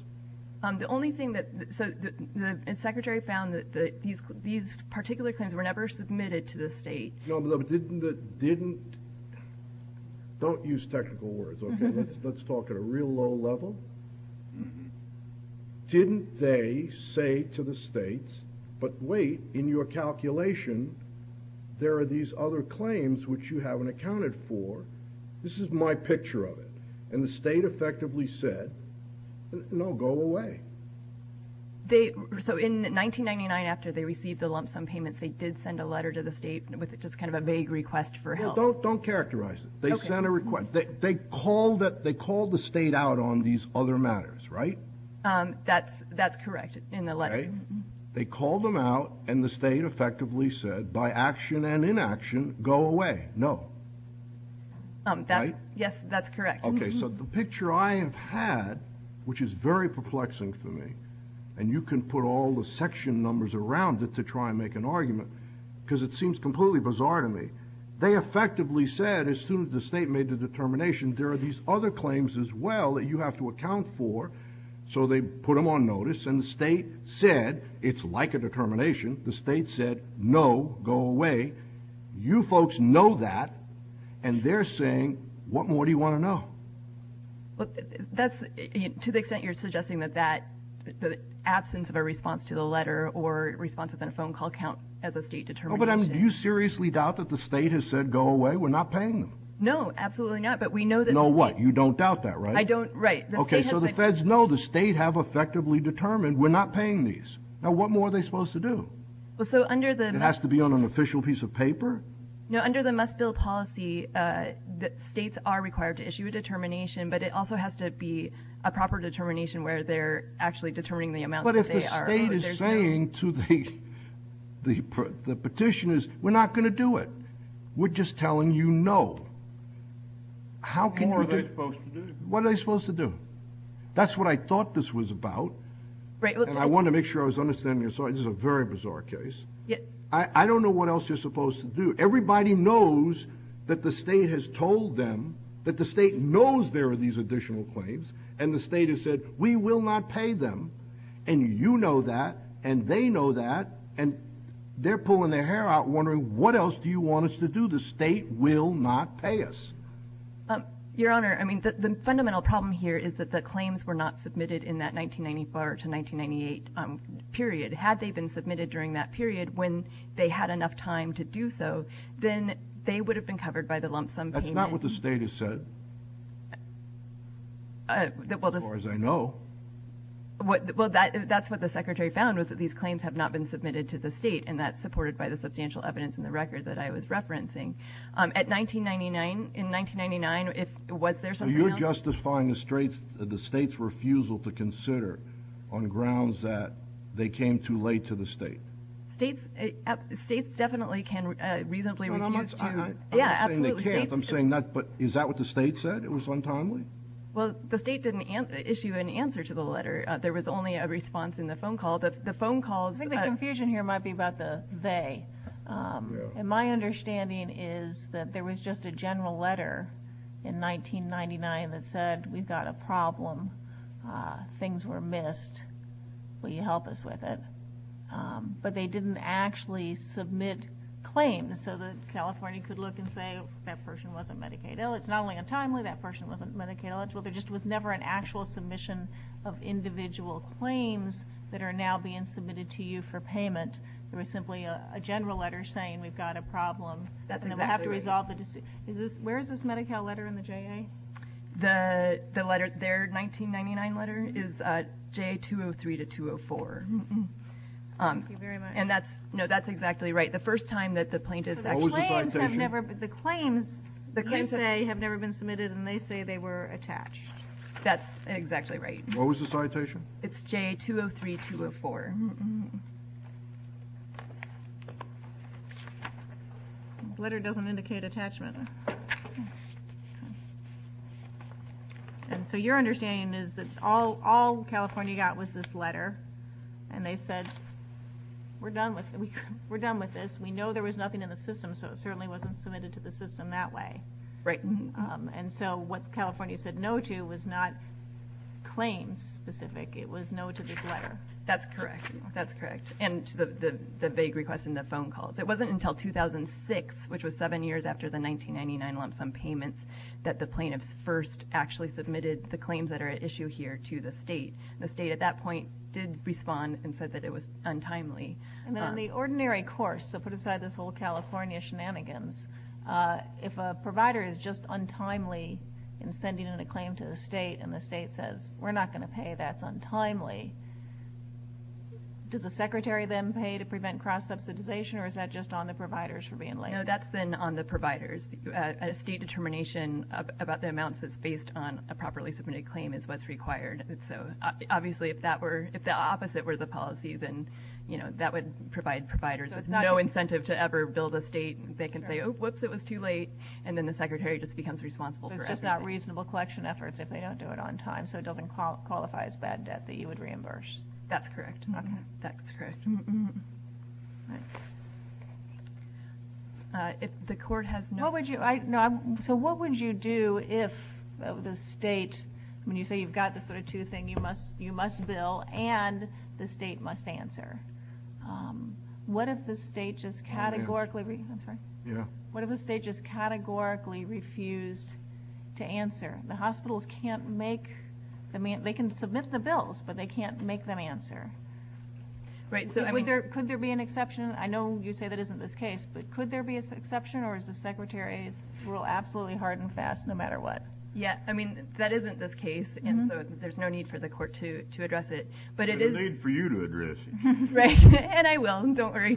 The only thing that... So the Secretary found that these particular claims were never submitted to the state. No, but didn't... Don't use technical words, okay? Let's talk at a real low level. Didn't they say to the states, but wait, in your calculation, there are these other claims which you haven't accounted for? This is my picture of it. And the state effectively said, no, go away. So in 1999, after they received the lump sum payments, they did send a letter to the state with just kind of a vague request for help. Don't characterize it. They sent a request. They called the state out on these other matters, right? That's correct in the letter. They called them out and the state effectively said by action and inaction, go away. No. Yes, that's correct. So the picture I have had, which is very perplexing for me, and you can put all the section numbers around it to try and make an argument because it seems completely bizarre to me. They effectively said, as soon as the state made the determination, there are these other claims as well that you have to account for. So they put them on notice and the state said, it's like a determination. The state said, no, go away. You folks know that. And they're saying, what more do you want to know? Well, that's to the extent you're suggesting that the absence of a response to the letter or responses in a phone call count as a state determination. But do you seriously doubt that the state has said, go away? We're not paying them. No, absolutely not. But we know that. Know what? You don't doubt that, right? I don't. Right. Okay. So the feds know the state have effectively determined we're not paying these. Now, what more are they supposed to do? It has to be on an official piece of paper? No, under the must-build policy, states are required to issue a determination, but it also has to be a proper determination where they're actually determining the amount. But if the state is saying to the petitioners, we're not going to do it. We're just telling you no. What are they supposed to do? What are they supposed to do? That's what I thought this was about. And I want to make sure I was understanding. So this is a very bizarre case. I don't know what else you're supposed to do. Everybody knows that the state has told them, that the state knows there are these additional claims, and the state has said, we will not pay them. And you know that, and they know that, and they're pulling their hair out wondering what else do you want us to do? The state will not pay us. Your Honor, I mean, the fundamental problem here is that the claims were not submitted in that 1994 to 1998 period. Had they been submitted during that period when they had enough time to do so, then they would have been covered by the lump sum payment. That's not what the state has said, as far as I know. Well, that's what the Secretary found, was that these claims have not been submitted to the state, and that's supported by the substantial evidence in the record that I was referencing. At 1999, in 1999, was there something else? You're justifying the state's refusal to consider on grounds that they came too late to the state. States, states definitely can reasonably refuse to... And I'm not saying they can't, I'm saying that, but is that what the state said, it was untimely? Well, the state didn't issue an answer to the letter. There was only a response in the phone call. The phone calls... I think the confusion here might be about the they. And my understanding is that there was just a general letter in 1999 that said, we've got a problem, things were missed, will you help us with it? But they didn't actually submit claims, so that California could look and say, that person wasn't Medicaid eligible. It's not only untimely, that person wasn't Medicaid eligible, there just was never an actual submission of individual claims that are now being submitted to you for payment. There was simply a general letter saying, we've got a problem, and we'll have to resolve the... The letter, their 1999 letter is JA 203 to 204. Thank you very much. And that's, no, that's exactly right. The first time that the plaintiff... What was the citation? The claims, you say, have never been submitted and they say they were attached. That's exactly right. What was the citation? It's JA 203, 204. Letter doesn't indicate attachment. Okay. And so your understanding is that all California got was this letter and they said, we're done with this, we know there was nothing in the system, so it certainly wasn't submitted to the system that way. Right. And so what California said no to was not claims specific, it was no to this letter. That's correct. That's correct. And the vague request in the phone calls. It wasn't until 2006, which was seven years after the 1999 lump sum payments, that the plaintiffs first actually submitted the claims that are at issue here to the state. The state at that point did respond and said that it was untimely. And then the ordinary course, so put aside this whole California shenanigans, if a provider is just untimely in sending in a claim to the state and the state says, we're not going to pay, that's untimely, does the secretary then pay to prevent cross-subsidization, or is that just on the providers for being late? That's then on the providers. A state determination about the amounts that's based on a properly submitted claim is what's required. Obviously, if the opposite were the policy, then that would provide providers with no incentive to ever bill the state. They can say, whoops, it was too late, and then the secretary just becomes responsible for everything. It's just not reasonable collection efforts if they don't do it on time, so it doesn't qualify as bad debt that you would reimburse. That's correct. That's correct. The court has no... So what would you do if the state, when you say you've got this sort of two thing, you must bill and the state must answer? What if the state just categorically refused to answer? The hospitals can't make... They can submit the bills, but they can't make them answer. Could there be an exception? I know you say that isn't this case, but could there be an exception or is the secretary's rule absolutely hard and fast no matter what? Yeah, I mean, that isn't this case, and so there's no need for the court to address it. There's a need for you to address it. Right, and I will, don't worry.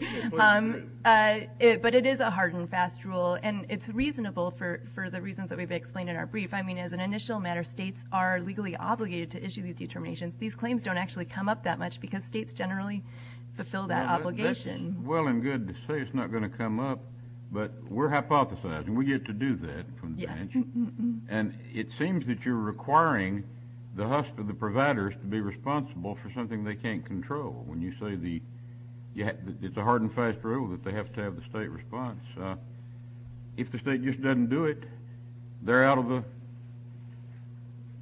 But it is a hard and fast rule, and it's reasonable for the reasons that we've explained in our brief. I mean, as an initial matter, states are legally obligated to issue these determinations. These claims don't actually come up that much because states generally fulfill that obligation. Well and good to say it's not going to come up, but we're hypothesizing. We get to do that. And it seems that you're requiring the providers to be responsible for something they can't control when you say it's a hard and fast rule that they have to have the state response. If the state just doesn't do it, they're out of the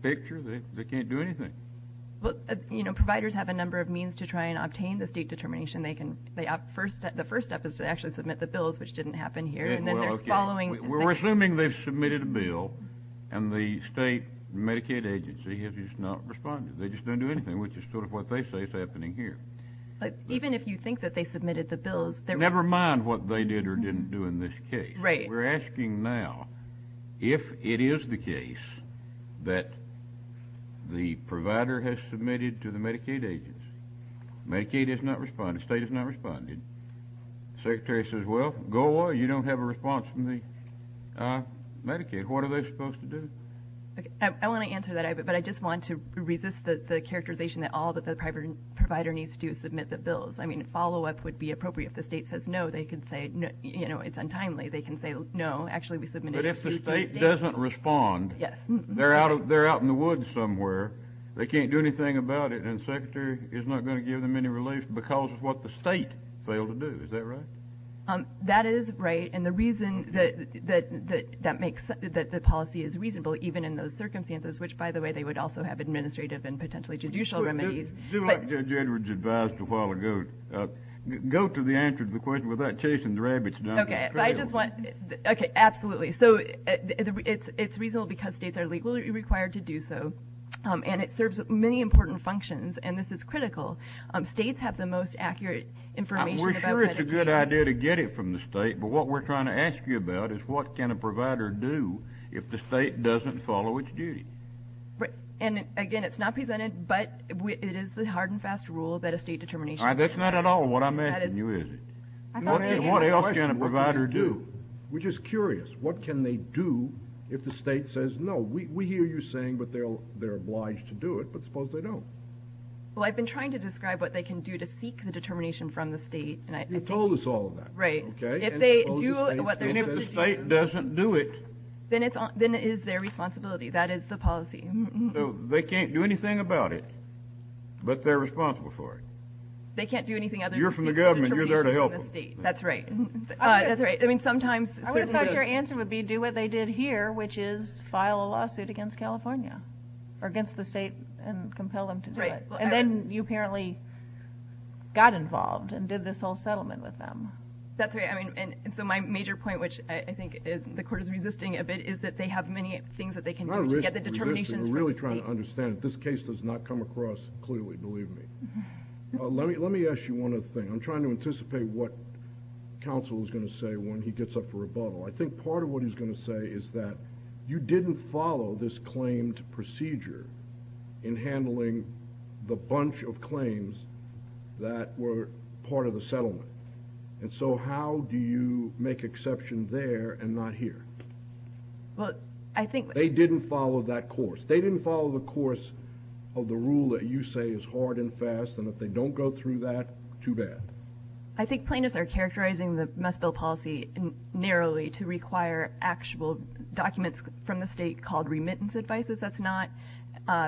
picture. They can't do anything. Providers have a number of means to try and obtain the state determination. They can, the first step is to actually submit the bills, which didn't happen here, and then there's following. We're assuming they've submitted a bill, and the state Medicaid agency has just not responded. They just don't do anything, which is sort of what they say is happening here. But even if you think that they submitted the bills, they're- Never mind what they did or didn't do in this case. Right. We're asking now if it is the case that the provider has submitted to the Medicaid agency, Medicaid has not responded, state has not responded. Secretary says, well, go away, you don't have a response from the Medicaid. What are they supposed to do? I want to answer that, but I just want to resist the characterization that all that the private provider needs to do is submit the bills. I mean, a follow-up would be appropriate. If the state says no, they can say, you know, it's untimely. They can say, no, actually we submitted- But if the state doesn't respond- Yes. They're out in the woods somewhere. They can't do anything about it, and the secretary is not going to give them any relief because of what the state failed to do. Is that right? That is right. And the reason that makes that the policy is reasonable, even in those circumstances, which, by the way, they would also have administrative and potentially judicial remedies- Do like Judge Edwards advised a while ago, go to the answer to the question without chasing the rabbits down the trail. Okay, I just want- Okay, absolutely. So it's reasonable because states are legally required to do so. And it serves many important functions. And this is critical. States have the most accurate information about- I'm sure it's a good idea to get it from the state. But what we're trying to ask you about is what can a provider do if the state doesn't follow its duty? And again, it's not presented, but it is the hard and fast rule that a state determination- That's not at all what I'm asking you, is it? I thought you had a question. What else can a provider do? We're just curious. What can they do if the state says, no, we hear you saying, they're obliged to do it, but suppose they don't? Well, I've been trying to describe what they can do to seek the determination from the state. And I- You told us all of that. Right. Okay. If they do what they're supposed to do- And if the state doesn't do it- Then it is their responsibility. That is the policy. They can't do anything about it, but they're responsible for it. They can't do anything other than- You're from the government. You're there to help them. That's right. That's right. I mean, sometimes- I would have thought your answer would be do what they did here, which is file a lawsuit against California. Or against the state and compel them to do it. Right. And then you apparently got involved and did this whole settlement with them. That's right. I mean, and so my major point, which I think the court is resisting a bit, is that they have many things that they can do to get the determinations from the state. We're not really trying to understand it. This case does not come across clearly, believe me. Let me ask you one other thing. I'm trying to anticipate what counsel is going to say when he gets up for rebuttal. I think part of what he's going to say is that you didn't follow this claimed procedure in handling the bunch of claims that were part of the settlement. And so how do you make exception there and not here? Well, I think- They didn't follow that course. They didn't follow the course of the rule that you say is hard and fast. And if they don't go through that, too bad. I think plaintiffs are characterizing the Musville policy narrowly to require actual documents from the state called remittance advices. That's not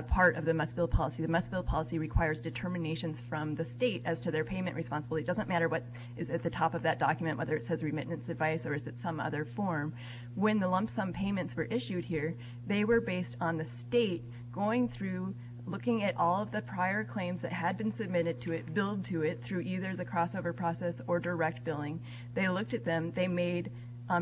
part of the Musville policy. The Musville policy requires determinations from the state as to their payment responsibility. It doesn't matter what is at the top of that document, whether it says remittance advice or is it some other form. When the lump sum payments were issued here, they were based on the state going through, looking at all of the prior claims that had been submitted to it, billed to it through either the crossover process or direct billing. They looked at them. They made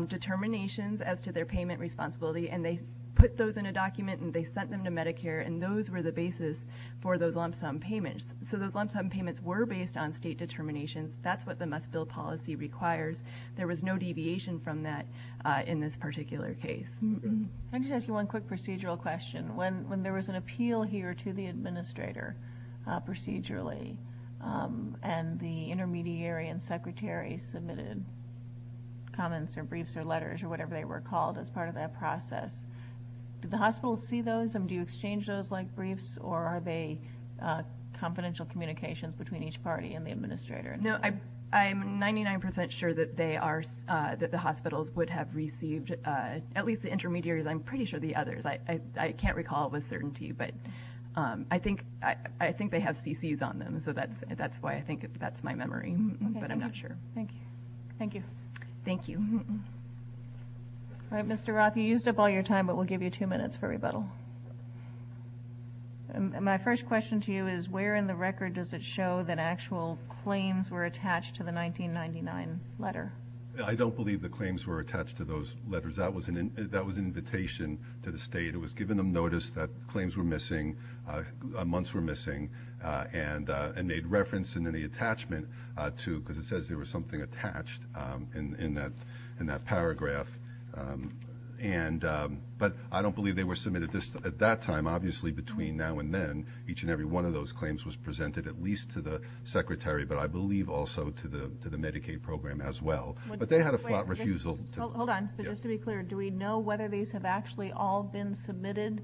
determinations as to their payment responsibility. And they put those in a document and they sent them to Medicare. And those were the basis for those lump sum payments. So those lump sum payments were based on state determinations. That's what the Musville policy requires. There was no deviation from that in this particular case. Let me just ask you one quick procedural question. When there was an appeal here to the administrator procedurally, and the intermediary and secretary submitted comments or briefs or letters or whatever they were called as part of that process, did the hospital see those and do you exchange those like briefs or are they confidential communications between each party and the administrator? No, I'm 99% sure that they are, that the hospitals would have received, at least the intermediaries, I'm pretty sure the others. I can't recall with certainty, but I think they have CCs on them. That's why I think that's my memory, but I'm not sure. Thank you. Thank you. All right, Mr. Roth, you used up all your time, but we'll give you two minutes for rebuttal. My first question to you is where in the record does it show that actual claims were attached to the 1999 letter? I don't believe the claims were attached to those letters. That was an invitation to the state. It was giving them notice that claims were missing, months were missing, and made reference in any attachment to, because it says there was something attached in that paragraph. But I don't believe they were submitted at that time. Obviously, between now and then, each and every one of those claims was presented at least to the secretary, but I believe also to the Medicaid program as well, but they had a flat refusal. Hold on. So just to be clear, do we know whether these have actually all been submitted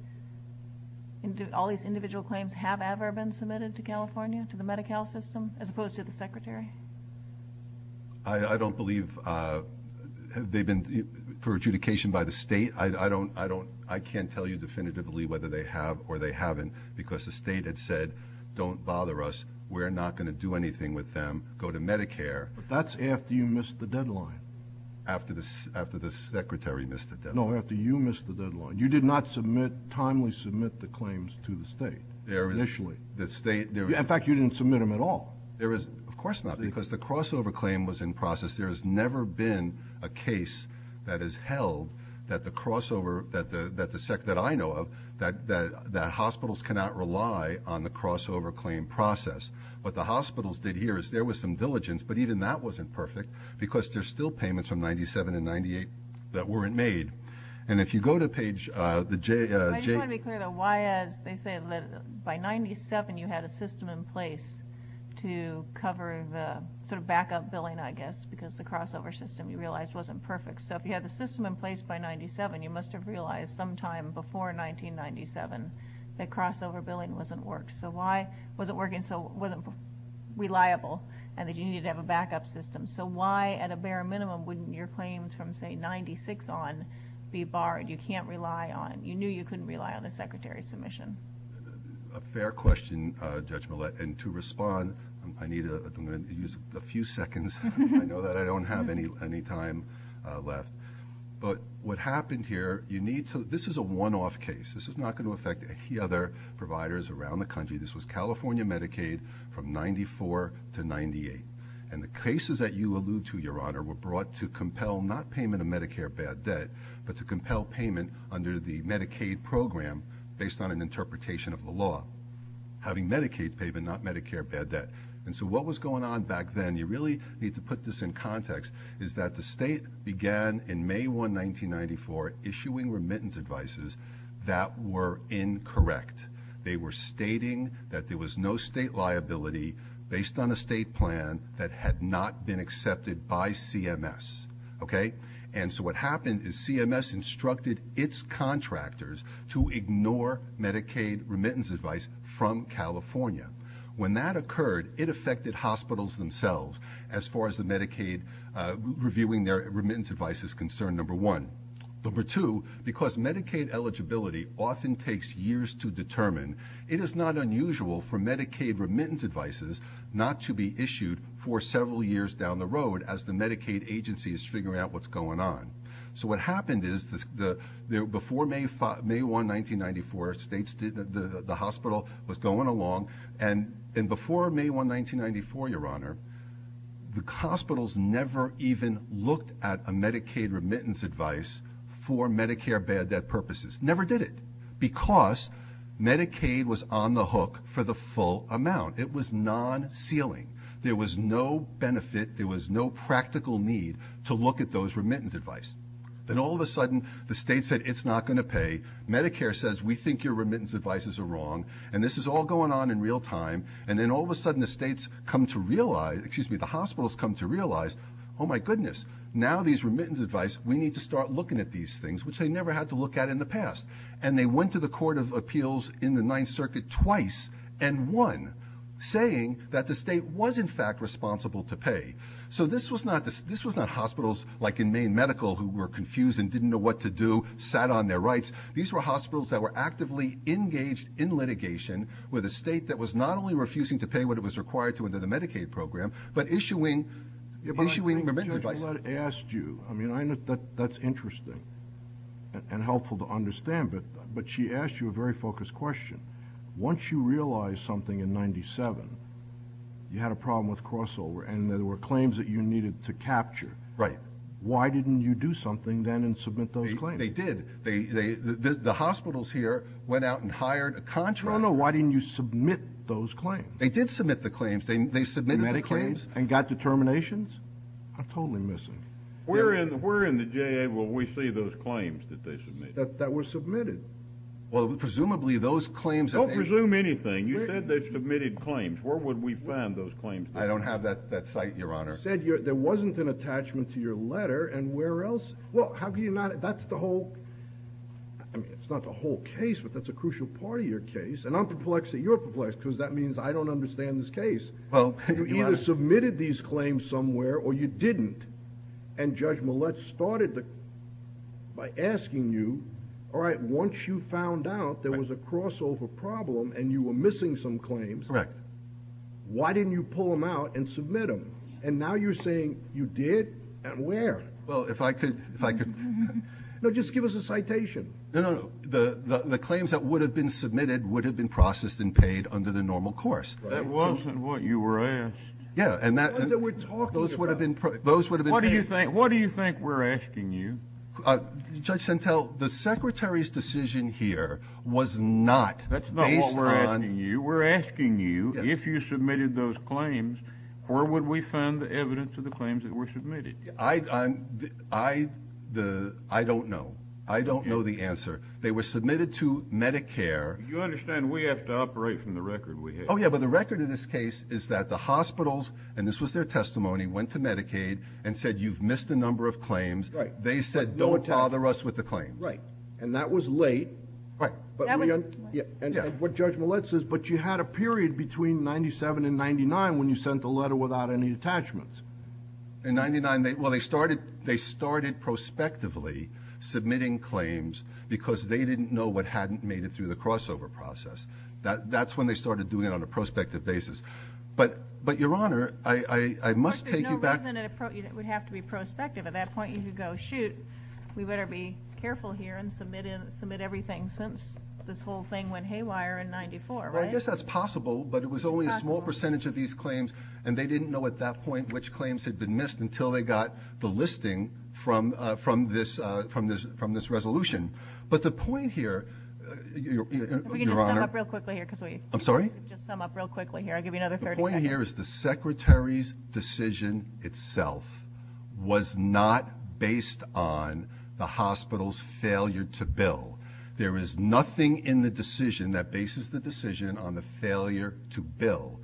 and do all these individual claims have ever been submitted to California, to the Medi-Cal system, as opposed to the secretary? I don't believe they've been for adjudication by the state. I can't tell you definitively whether they have or they haven't, because the state had said, don't bother us, we're not going to do anything with them, go to Medicare. But that's after you missed the deadline. After the secretary missed the deadline. No, after you missed the deadline. You did not submit, timely submit the claims to the state initially. The state... In fact, you didn't submit them at all. There is, of course not, because the crossover claim was in process. There has never been a case that is held that the crossover, that the SEC, that I know of, that hospitals cannot rely on the crossover claim process. What the hospitals did here is there was some diligence, but even that wasn't perfect, because there's still payments from 97 and 98 that weren't made. And if you go to page... I do want to be clear, though, why, as they say, by 97 you had a system in place to cover the sort of backup billing, I guess, because the crossover system you realized wasn't perfect. So if you had the system in place by 97, you must have realized sometime before 1997 that crossover billing wasn't worked. So why was it working so wasn't reliable and that you needed to have a backup system? So why, at a bare minimum, wouldn't your claims from, say, 96 on be barred? You can't rely on... You knew you couldn't rely on a secretary's submission. A fair question, Judge Millett. And to respond, I need to use a few seconds. I know that I don't have any time left. But what happened here, you need to... This is a one-off case. This is not going to affect any other providers around the country. This was California Medicaid from 94 to 98. And the cases that you allude to, Your Honor, were brought to compel not payment of Medicare bad debt, but to compel payment under the Medicaid program based on an interpretation of the law. Having Medicaid payment, not Medicare bad debt. And so what was going on back then, you really need to put this in context, is that the state began in May 1, 1994, issuing remittance advices that were incorrect. They were stating that there was no state liability based on a state plan that had not been accepted by CMS. And so what happened is CMS instructed its contractors to ignore Medicaid remittance advice from California. When that occurred, it affected hospitals themselves as far as the Medicaid reviewing their remittance advice is concerned, number one. It is not unusual for Medicaid remittance advices not to be issued for several years down the road as the Medicaid agency is figuring out what's going on. So what happened is, before May 1, 1994, the hospital was going along, and before May 1, 1994, Your Honor, the hospitals never even looked at a Medicaid remittance advice for Medicare bad debt purposes. Never did it. Because Medicaid was on the hook for the full amount. It was non-ceiling. There was no benefit, there was no practical need to look at those remittance advice. Then all of a sudden, the state said, it's not going to pay. Medicare says, we think your remittance advices are wrong. And this is all going on in real time. And then all of a sudden, the states come to realize, excuse me, the hospitals come to realize, oh my goodness, now these remittance advice, we need to start looking at these things, which they never had to look at in the past. And they went to the Court of Appeals in the Ninth Circuit twice and won, saying that the state was, in fact, responsible to pay. So this was not hospitals like in Maine Medical, who were confused and didn't know what to do, sat on their rights. These were hospitals that were actively engaged in litigation with a state that was not only refusing to pay what it was required to under the Medicaid program, but issuing remittance advice. But I think Judge Millett asked you. I mean, that's interesting and helpful to understand. But she asked you a very focused question. Once you realize something in 97, you had a problem with crossover and there were claims that you needed to capture. Right. Why didn't you do something then and submit those claims? They did. The hospitals here went out and hired a contractor. Oh no, why didn't you submit those claims? They did submit the claims. They submitted the claims. And got determinations? I'm totally missing. Where in the J.A. will we see those claims that they submitted? That were submitted. Well, presumably those claims... Don't presume anything. You said they submitted claims. Where would we find those claims? I don't have that site, Your Honor. You said there wasn't an attachment to your letter. And where else? Well, that's the whole... I mean, it's not the whole case, but that's a crucial part of your case. And I'm perplexed that you're perplexed, because that means I don't understand this case. Well, you either submitted these claims somewhere or you didn't. And Judge Millett started by asking you, all right, once you found out there was a crossover problem and you were missing some claims... Correct. Why didn't you pull them out and submit them? And now you're saying you did? And where? Well, if I could, if I could... No, just give us a citation. No, no, no. The claims that would have been submitted would have been processed and paid under the normal course. That wasn't what you were asked. Yeah, and that... The ones that we're talking about. Those would have been paid... What do you think we're asking you? Judge Sentelle, the secretary's decision here was not based on... That's not what we're asking you. We're asking you if you submitted those claims, where would we find the evidence of the claims that were submitted? I don't know. I don't know the answer. They were submitted to Medicare. You understand we have to operate from the record we have. Oh, yeah, but the record of this case is that the hospitals, and this was their testimony, went to Medicaid and said, you've missed a number of claims. Right. They said, don't bother us with the claims. Right. And that was late. Right. That was late. And what Judge Millett says, but you had a period between 97 and 99 when you sent the letter without any attachments. In 99, well, they started prospectively submitting claims because they didn't know what hadn't made it through the crossover process. That's when they started doing it on a prospective basis. But, Your Honor, I must take you back. There's no reason it would have to be prospective. At that point, you could go, shoot, we better be careful here and submit everything since this whole thing went haywire in 94, right? I guess that's possible, but it was only a small percentage of these claims, and they didn't know at that point which claims had been missed until they got the listing from this resolution. But the point here, Your Honor. If we can just sum up real quickly here because we... I'm sorry? Just sum up real quickly here. The point here is the Secretary's decision itself was not based on the hospital's failure to bill. There is nothing in the decision that bases the decision on the failure to bill.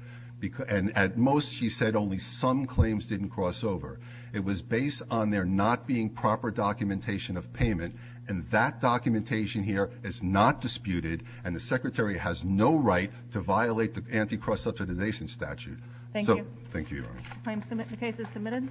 And at most, she said, only some claims didn't cross over. It was based on there not being proper documentation of payment, and that documentation here is not disputed, and the Secretary has no right to violate the Anti-Cross Subsidization Statute. Thank you. Thank you, Your Honor. Claims submitted. The case is submitted.